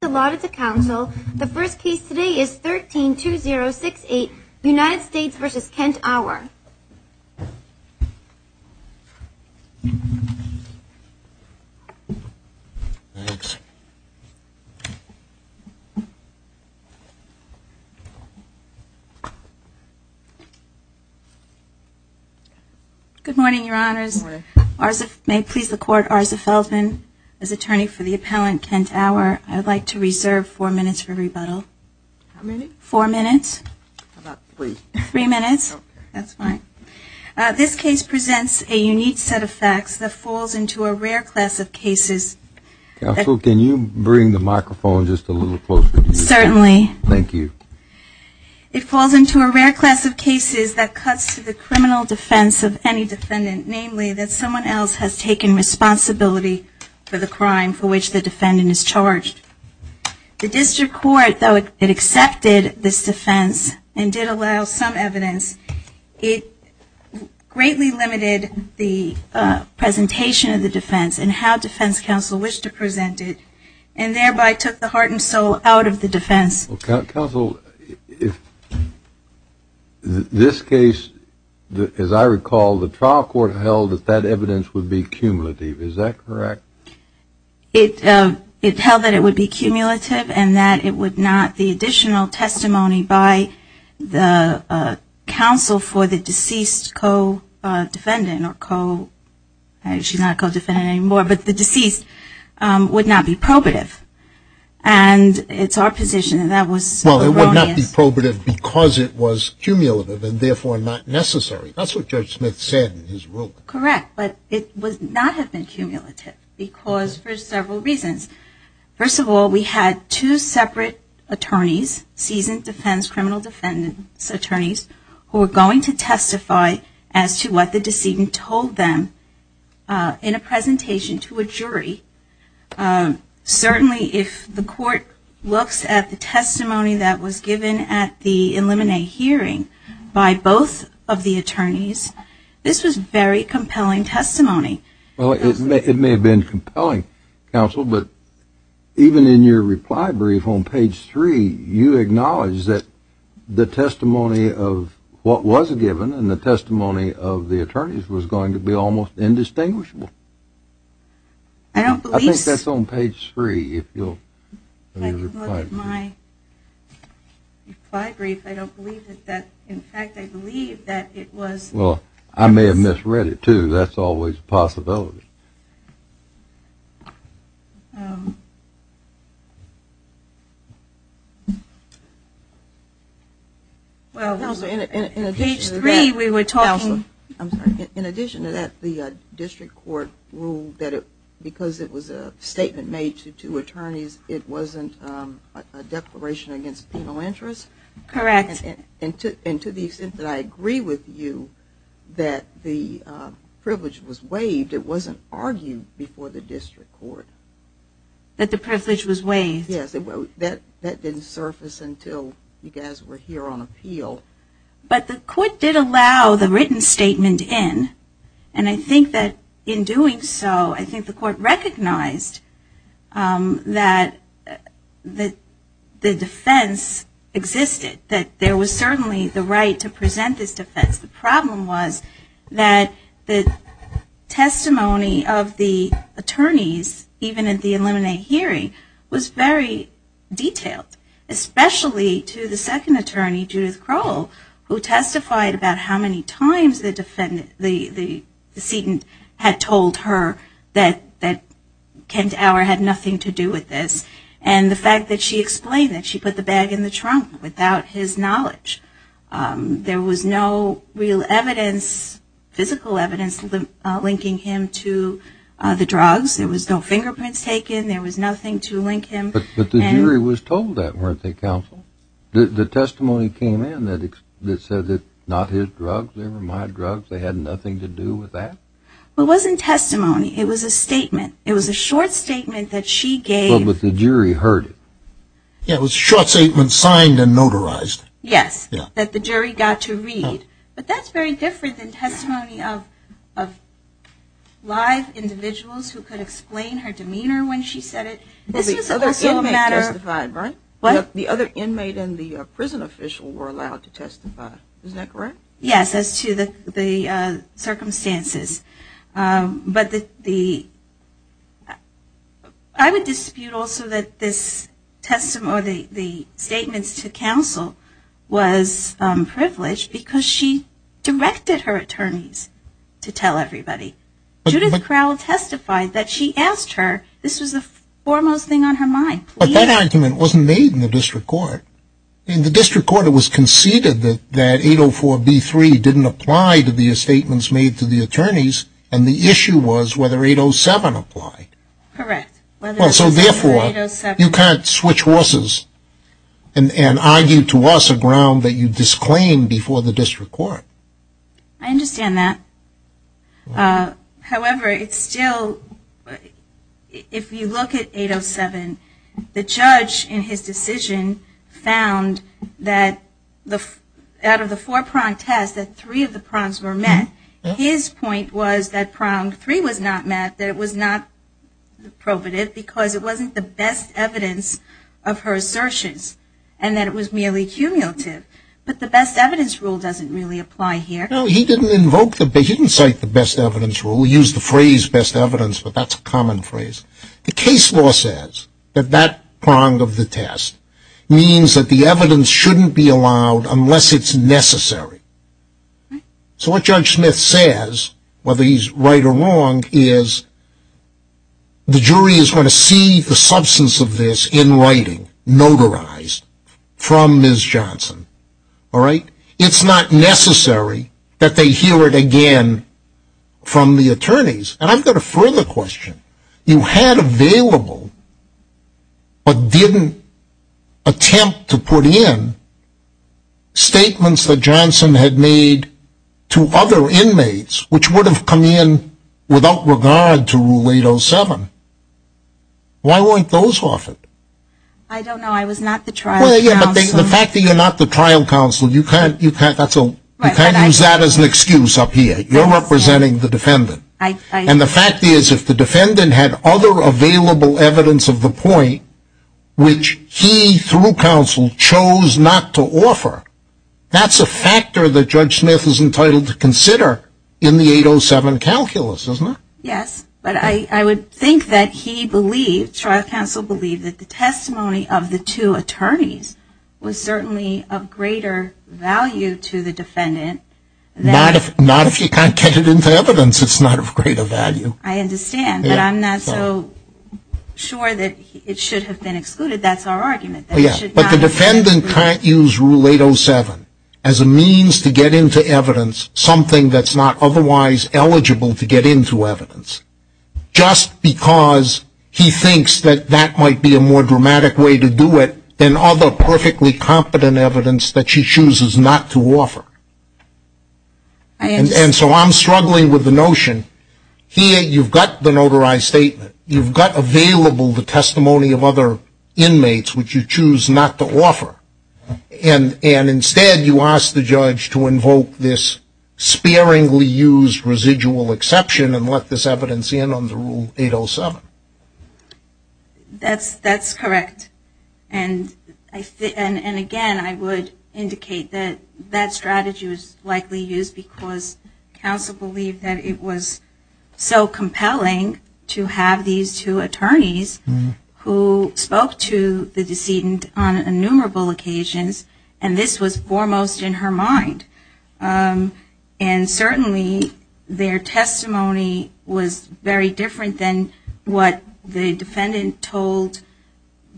The first case today is 13-2068 United States v. Kent Awer Good morning, your honors. May it please the court, Arza Feldman, as attorney for the appellant Kent Awer, I would like to reserve four minutes for rebuttal. How many? Four minutes. How about three? Three minutes. Okay. That's fine. This case presents a unique set of facts that falls into a rare class of cases. Counsel, can you bring the microphone just a little closer to you? Certainly. Thank you. It falls into a rare class of cases that cuts to the criminal defense of any defendant, namely that someone else has taken responsibility for the crime for which the defendant is charged. The district court, though it accepted this defense and did allow some evidence, it greatly limited the presentation of the defense and how defense counsel wished to present it, and thereby took the heart and soul out of the defense. Counsel, if this case, as I recall, the trial court held that that evidence would be cumulative. Is that correct? It held that it would be cumulative and that it would not, the additional testimony by the counsel for the deceased co-defendant, she's not a co-defendant anymore, but the deceased, would not be probative. And it's our position that that was erroneous. Well, it would not be probative because it was cumulative and therefore not necessary. That's what Judge Smith said in his ruling. Correct. But it would not have been cumulative because for several reasons. First of all, we had two separate attorneys, seasoned defense criminal defendants attorneys, who were going to testify as to what the decedent told them in a presentation to a jury. Certainly, if the court looks at the testimony that was given at the eliminate hearing by both of the attorneys, this was very compelling testimony. Well, it may have been compelling, counsel, but even in your reply brief on page three, you acknowledge that the testimony of what was given and the testimony of the attorneys was going to be almost indistinguishable. I don't believe that. I think that's on page three. If you'll look at my reply brief, I don't believe that. In fact, I believe that it was. Well, I may have misread it, too. That's always a possibility. Page three, we were talking. In addition to that, the district court ruled that because it was a statement made to two attorneys, it wasn't a declaration against penal interest. Correct. And to the extent that I agree with you, that the privilege was waived. It wasn't argued before the district court. That the privilege was waived. Yes, that didn't surface until you guys were here on appeal. But the court did allow the written statement in. And I think that in doing so, I think the court recognized that the defense existed. That there was certainly the right to present this defense. The problem was that the testimony of the attorneys, even at the eliminate hearing, was very detailed. Especially to the second attorney, Judith Crowell, who testified about how many times the defendant, the decedent, had told her that Kent Auer had nothing to do with this. And the fact that she explained that she put the bag in the trunk without his knowledge. There was no real evidence, physical evidence, linking him to the drugs. There was no fingerprints taken. There was nothing to link him. But the jury was told that, weren't they, counsel? The testimony came in that said that not his drugs, they were my drugs. They had nothing to do with that. Well, it wasn't testimony. It was a statement. It was a short statement that she gave. But the jury heard it. Yeah, it was a short statement signed and notarized. Yes, that the jury got to read. But that's very different than testimony of live individuals who could explain her demeanor when she said it. The other inmate testified, right? What? The other inmate and the prison official were allowed to testify. Isn't that correct? Yes, as to the circumstances. But I would dispute also that this testimony, the statements to counsel, was privileged because she directed her attorneys to tell everybody. Judith Crowell testified that she asked her. This was the foremost thing on her mind. But that argument wasn't made in the district court. In the district court, it was conceded that 804b3 didn't apply to the statements made to the attorneys, and the issue was whether 807 applied. Correct. So, therefore, you can't switch horses and argue to us a ground that you disclaimed before the district court. I understand that. However, it's still, if you look at 807, the judge in his decision found that out of the four pronged tests, that three of the prongs were met. His point was that prong three was not met, that it was not probative, because it wasn't the best evidence of her assertions, and that it was merely cumulative. But the best evidence rule doesn't really apply here. No, he didn't invoke the best evidence rule. He used the phrase best evidence, but that's a common phrase. The case law says that that prong of the test means that the evidence shouldn't be allowed unless it's necessary. So what Judge Smith says, whether he's right or wrong, is the jury is going to see the substance of this in writing, notarized, from Ms. Johnson. It's not necessary that they hear it again from the attorneys. And I've got a further question. You had available, but didn't attempt to put in, statements that Johnson had made to other inmates, which would have come in without regard to Rule 807. Why weren't those offered? I don't know. I was not the trial counsel. Well, yeah, but the fact that you're not the trial counsel, you can't use that as an excuse up here. You're representing the defendant. And the fact is, if the defendant had other available evidence of the point, which he, through counsel, chose not to offer, that's a factor that Judge Smith is entitled to consider in the 807 calculus, isn't it? Yes. But I would think that he believed, trial counsel believed, that the testimony of the two attorneys was certainly of greater value to the defendant. Not if you can't get it into evidence, it's not of greater value. I understand. But I'm not so sure that it should have been excluded. That's our argument. But the defendant can't use Rule 807 as a means to get into evidence, something that's not otherwise eligible to get into evidence, just because he thinks that that might be a more dramatic way to do it than other perfectly competent evidence that she chooses not to offer. And so I'm struggling with the notion. Here you've got the notarized statement. You've got available the testimony of other inmates, which you choose not to offer. And instead you ask the judge to invoke this sparingly used residual exception and let this evidence in under Rule 807. That's correct. And, again, I would indicate that that strategy was likely used because counsel believed that it was so compelling to have these two attorneys who spoke to the decedent on innumerable occasions, and this was foremost in her mind. And certainly their testimony was very different than what the defendant told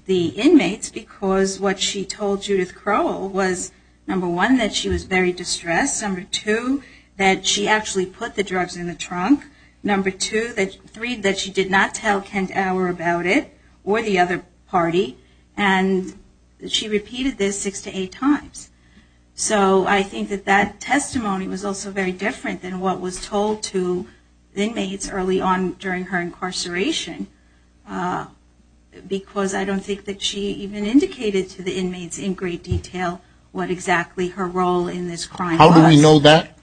the inmates because what she told Judith Crowell was, number one, that she was very distressed, number two, that she actually put the drugs in the trunk, number three, that she did not tell Kent Auer about it or the other party, and she repeated this six to eight times. So I think that that testimony was also very different than what was told to inmates early on during her incarceration because I don't think that she even indicated to the inmates in great detail what exactly her role in this crime was. How do we know that?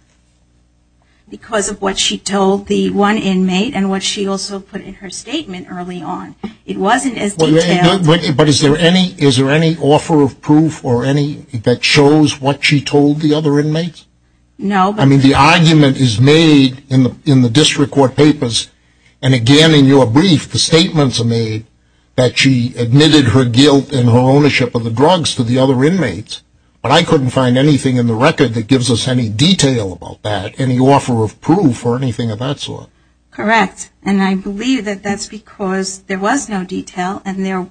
Because of what she told the one inmate and what she also put in her statement early on. It wasn't as detailed. But is there any offer of proof or any that shows what she told the other inmates? No. I mean, the argument is made in the district court papers, and, again, in your brief, the statements are made that she admitted her guilt and her ownership of the drugs to the other inmates, but I couldn't find anything in the record that gives us any detail about that, any offer of proof or anything of that sort. Correct, and I believe that that's because there was no detail and there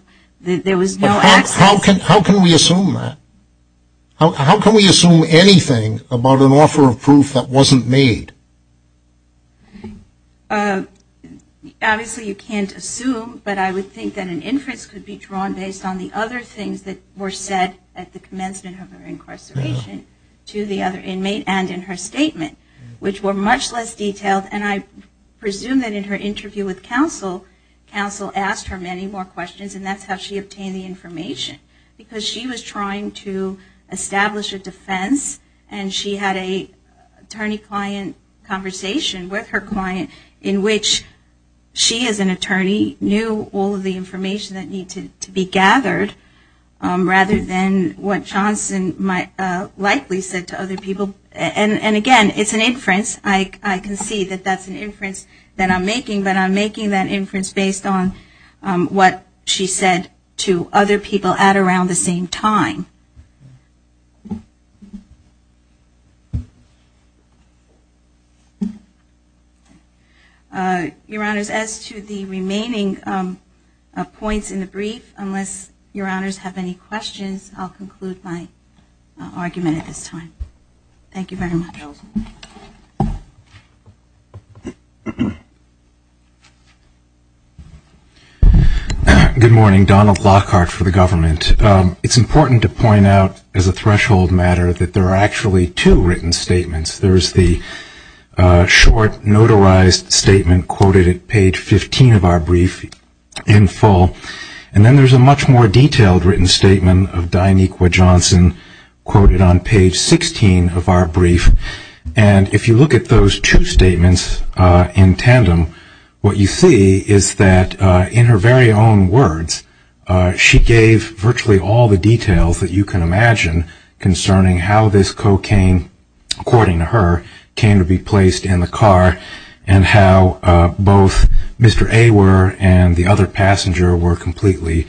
was no access. How can we assume that? How can we assume anything about an offer of proof that wasn't made? Obviously, you can't assume, but I would think that an inference could be drawn based on the other things that were said at the commencement of her incarceration to the other inmate and in her statement, which were much less detailed. And I presume that in her interview with counsel, counsel asked her many more questions, and that's how she obtained the information, because she was trying to establish a defense and she had a attorney-client conversation with her client in which she, as an attorney, knew all of the information that needed to be gathered rather than what Johnson likely said to other people. And, again, it's an inference. I can see that that's an inference that I'm making, but I'm making that inference based on what she said to other people at around the same time. Your Honors, as to the remaining points in the brief, unless Your Honors have any questions, I'll conclude my argument at this time. Thank you very much. Good morning. Donald Lockhart for the government. It's important to point out, as a threshold matter, that there are actually two written statements. There is the short, notarized statement quoted at page 15 of our brief in full, and then there's a much more detailed written statement of Dianiqua Johnson quoted on page 16 of our brief. And if you look at those two statements in tandem, what you see is that, in her very own words, she gave virtually all the details that you can imagine concerning how this cocaine, according to her, came to be placed in the car and how both Mr. Awer and the other passenger were completely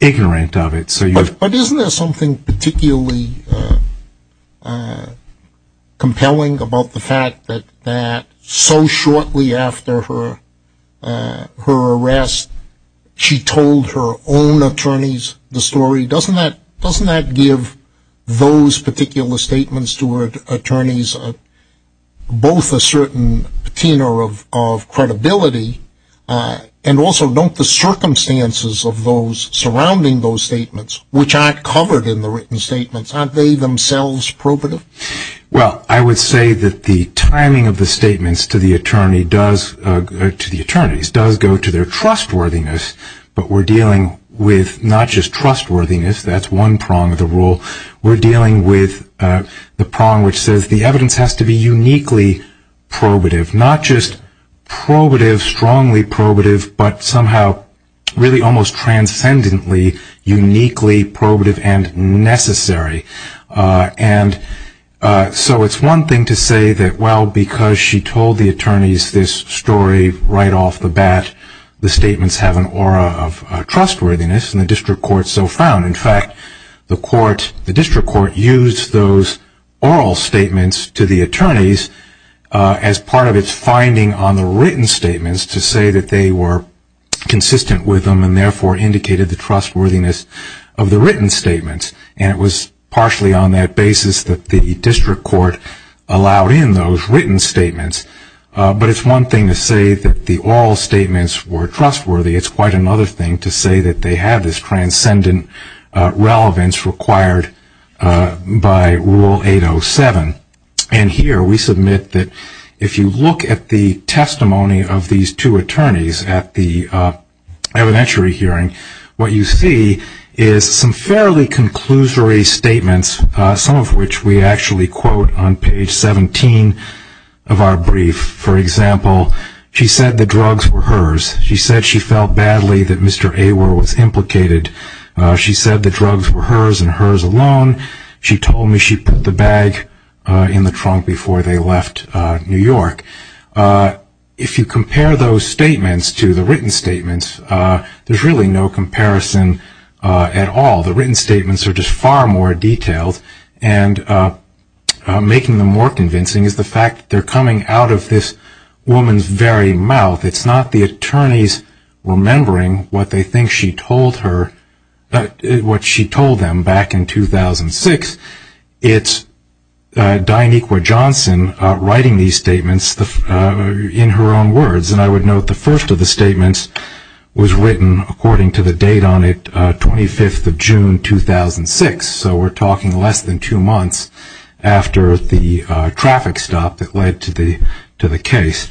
ignorant of it. But isn't there something particularly compelling about the fact that so shortly after her arrest, she told her own attorneys the story? Doesn't that give those particular statements to her attorneys both a certain patina of credibility, and also don't the circumstances surrounding those statements, which aren't covered in the written statements, aren't they themselves probative? Well, I would say that the timing of the statements to the attorneys does go to their trustworthiness, but we're dealing with not just trustworthiness. That's one prong of the rule. We're dealing with the prong which says the evidence has to be uniquely probative, not just probative, strongly probative, but somehow really almost transcendently uniquely probative and necessary. And so it's one thing to say that, well, because she told the attorneys this story right off the bat, the statements have an aura of trustworthiness, and the district court so frowned. In fact, the district court used those oral statements to the attorneys as part of its finding on the written statements to say that they were consistent with them and therefore indicated the trustworthiness of the written statements. And it was partially on that basis that the district court allowed in those written statements. But it's one thing to say that the oral statements were trustworthy. It's quite another thing to say that they have this transcendent relevance required by Rule 807. And here we submit that if you look at the testimony of these two attorneys at the evidentiary hearing, what you see is some fairly conclusory statements, some of which we actually quote on page 17 of our brief. For example, she said the drugs were hers. She said she felt badly that Mr. Awer was implicated. She said the drugs were hers and hers alone. She told me she put the bag in the trunk before they left New York. If you compare those statements to the written statements, there's really no comparison at all. The written statements are just far more detailed, and making them more convincing is the fact that they're coming out of this woman's very mouth. It's not the attorneys remembering what they think she told her, what she told them back in 2006. It's Dianiqua Johnson writing these statements in her own words. And I would note the first of the statements was written according to the date on it, 25th of June 2006. So we're talking less than two months after the traffic stop that led to the case.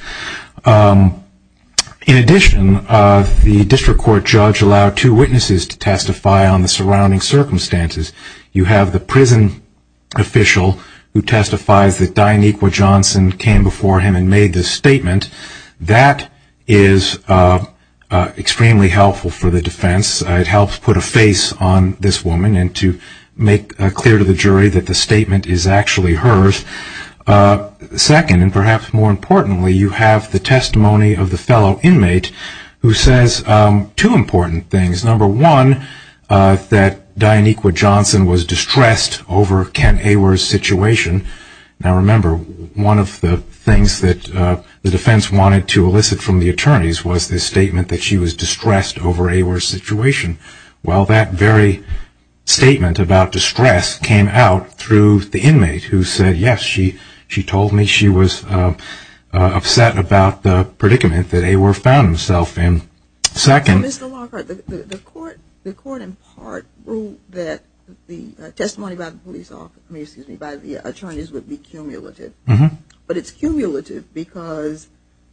In addition, the district court judge allowed two witnesses to testify on the surrounding circumstances. You have the prison official who testifies that Dianiqua Johnson came before him and made this statement. That is extremely helpful for the defense. It helps put a face on this woman and to make clear to the jury that the statement is actually hers. Second, and perhaps more importantly, you have the testimony of the fellow inmate who says two important things. Number one, that Dianiqua Johnson was distressed over Ken Awer's situation. Now remember, one of the things that the defense wanted to elicit from the attorneys was this statement that she was distressed over Awer's situation. Well, that very statement about distress came out through the inmate who said, yes, she told me she was upset about the predicament that Awer found himself in. Mr. Lockhart, the court in part ruled that the testimony by the attorneys would be cumulative. But it's cumulative because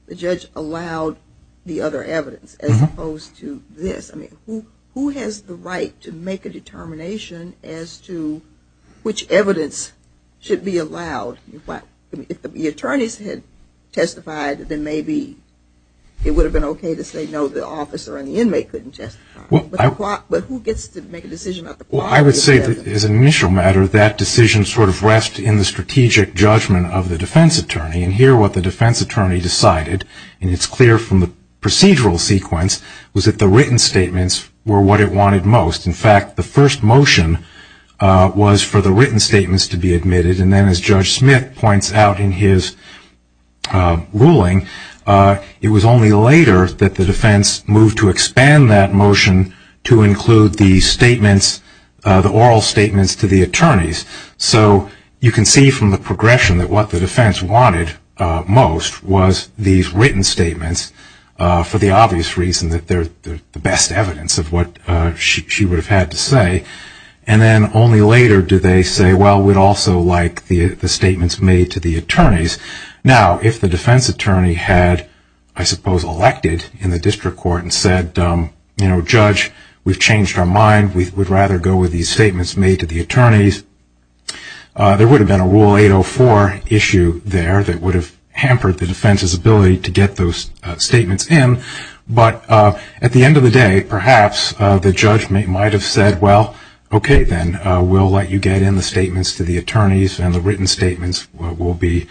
the judge allowed the other evidence as opposed to this. Who has the right to make a determination as to which evidence should be allowed? If the attorneys had testified, then maybe it would have been okay to say, no, the officer and the inmate couldn't testify. But who gets to make a decision? Well, I would say that as an initial matter, that decision sort of rests in the strategic judgment of the defense attorney. And here what the defense attorney decided, and it's clear from the procedural sequence, was that the written statements were what it wanted most. In fact, the first motion was for the written statements to be admitted. And then as Judge Smith points out in his ruling, it was only later that the defense moved to expand that motion to include the oral statements to the attorneys. So you can see from the progression that what the defense wanted most was these written statements for the obvious reason that they're the best evidence of what she would have had to say. And then only later did they say, well, we'd also like the statements made to the attorneys. Now, if the defense attorney had, I suppose, elected in the district court and said, you know, judge, we've changed our mind. We would rather go with these statements made to the attorneys, there would have been a Rule 804 issue there that would have hampered the defense's ability to get those statements in. But at the end of the day, perhaps the judge might have said, well, okay, then. We'll let you get in the statements to the attorneys, and the written statements will be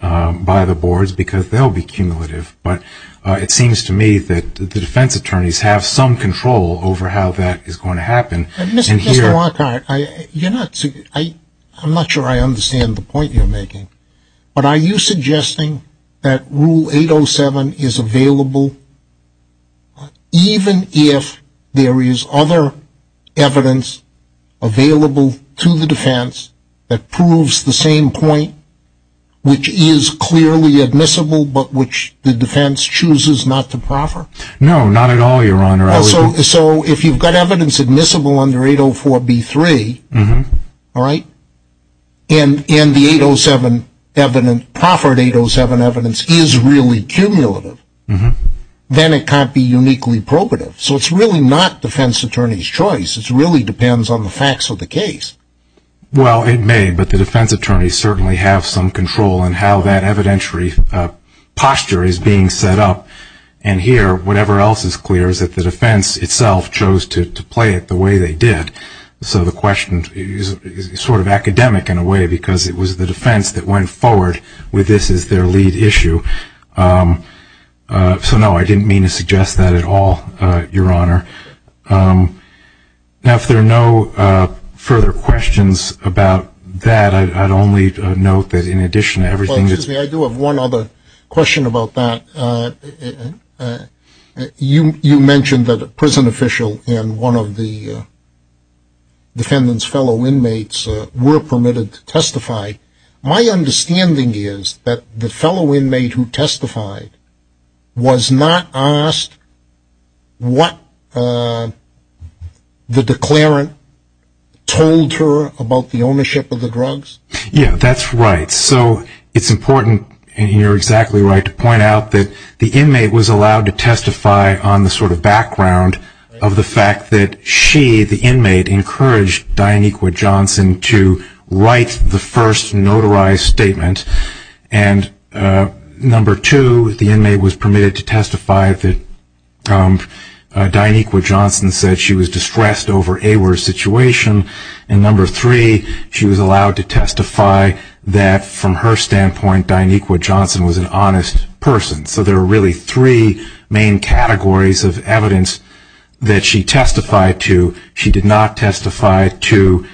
by the boards because they'll be cumulative. But it seems to me that the defense attorneys have some control over how that is going to happen. Mr. Lockhart, I'm not sure I understand the point you're making. But are you suggesting that Rule 807 is available even if there is other evidence available to the defense that proves the same point, which is clearly admissible, but which the defense chooses not to proffer? No, not at all, Your Honor. So if you've got evidence admissible under 804b3, and the 807 evidence, proffered 807 evidence, is really cumulative, then it can't be uniquely probative. So it's really not defense attorney's choice. It really depends on the facts of the case. Well, it may, but the defense attorneys certainly have some control in how that evidentiary posture is being set up. And here, whatever else is clear is that the defense itself chose to play it the way they did. So the question is sort of academic in a way because it was the defense that went forward with this as their lead issue. So, no, I didn't mean to suggest that at all, Your Honor. Now, if there are no further questions about that, I'd only note that in addition to everything that's been said... Well, excuse me, I do have one other question about that. You mentioned that a prison official and one of the defendant's fellow inmates were permitted to testify. My understanding is that the fellow inmate who testified was not asked what evidence was available to the defense. The declarant told her about the ownership of the drugs? Yeah, that's right. So it's important, and you're exactly right, to point out that the inmate was allowed to testify on the sort of background of the fact that she, the inmate, encouraged Dianiqua Johnson to write the first notarized statement. And number two, the inmate was permitted to testify that Dianiqua Johnson said she was distressed over AWIR's situation. And number three, she was allowed to testify that from her standpoint, Dianiqua Johnson was an honest person. So there are really three main categories of evidence that she testified to. She did not testify to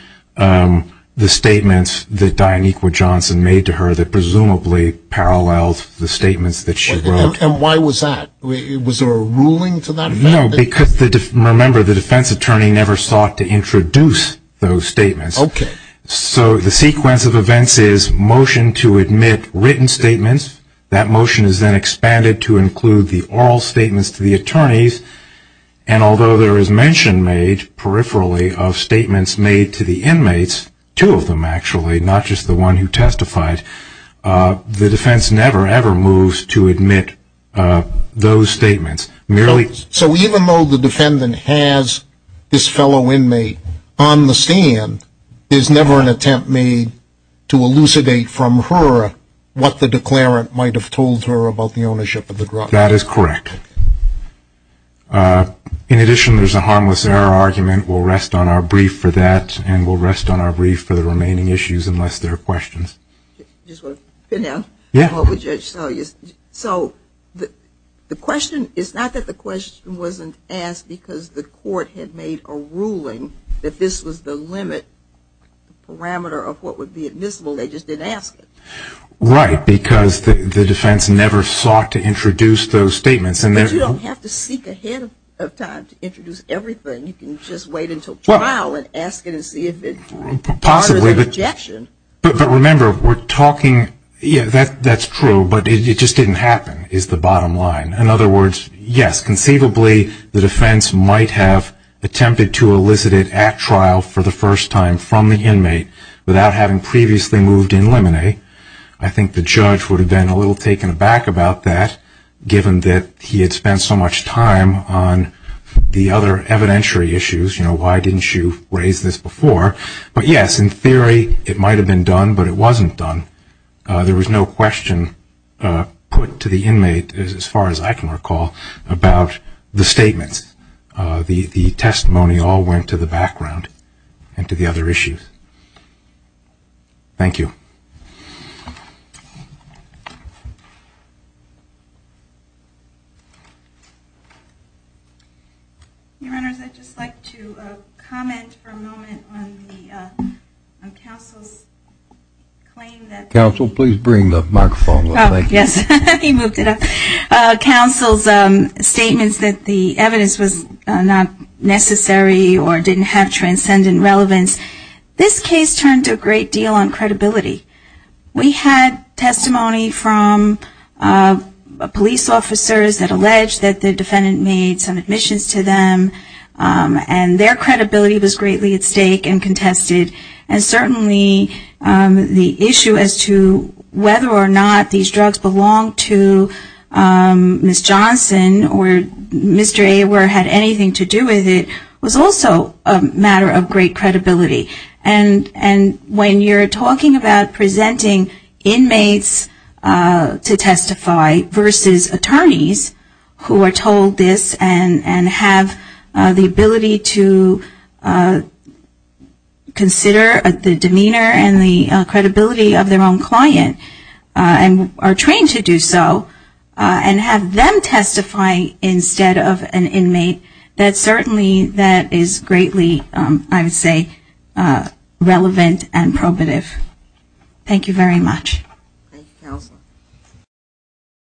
the statements that Dianiqua Johnson made to her that presumably paralleled the statements that she wrote. And why was that? Was there a ruling to that? No, because remember, the defense attorney never sought to introduce those statements. So the sequence of events is motion to admit written statements. That motion is then expanded to include the oral statements to the attorneys. And although there is mention made, peripherally, of statements made to the inmates, two of them actually, not just the one who testified, the defense never ever moves to admit those statements. So even though the defendant has this fellow inmate on the stand, there's never an attempt made to elucidate from her what the declarant said. And there's no evidence that the declarant might have told her about the ownership of the drug. That is correct. In addition, there's a harmless error argument. We'll rest on our brief for that. And we'll rest on our brief for the remaining issues unless there are questions. So the question is not that the question wasn't asked because the court had made a ruling that this was the limit, the parameter of what would be admissible. They just didn't ask it. Right, because the defense never sought to introduce those statements. But you don't have to seek ahead of time to introduce everything. You can just wait until trial and ask it and see if it's part of an objection. Possibly, but remember, we're talking, yeah, that's true, but it just didn't happen is the bottom line. In other words, yes, conceivably, the defense might have attempted to elicit it at trial for the first time from the inmate without having previously moved in limine. I think the judge would have been a little taken aback about that given that he had spent so much time on the other evidentiary issues, you know, why didn't you raise this before. But yes, in theory, it might have been done, but it wasn't done. There was no question put to the inmate, as far as I can recall, about the statements. The testimony all went to the background and to the other issues. Thank you. Your Honor, I'd just like to comment for a moment on the counsel's claim that the evidence was not necessary or didn't have transcendent relevance. This case turned to a great deal on credibility. We had testimony from police officers that alleged that the defendant made some admissions to them and their credibility was greatly at stake and contested. And certainly the issue as to whether or not these drugs belonged to Ms. Johnson or Mr. Awer had anything to do with it was also a matter of great credibility. And when you're talking about presenting inmates to testify versus attorneys who are told this and have the ability to consider the demeanor and the credibility of their own client, and are trained to do so, and have them testify instead of an inmate, that certainly that is greatly, I would say, contested. Thank you very much.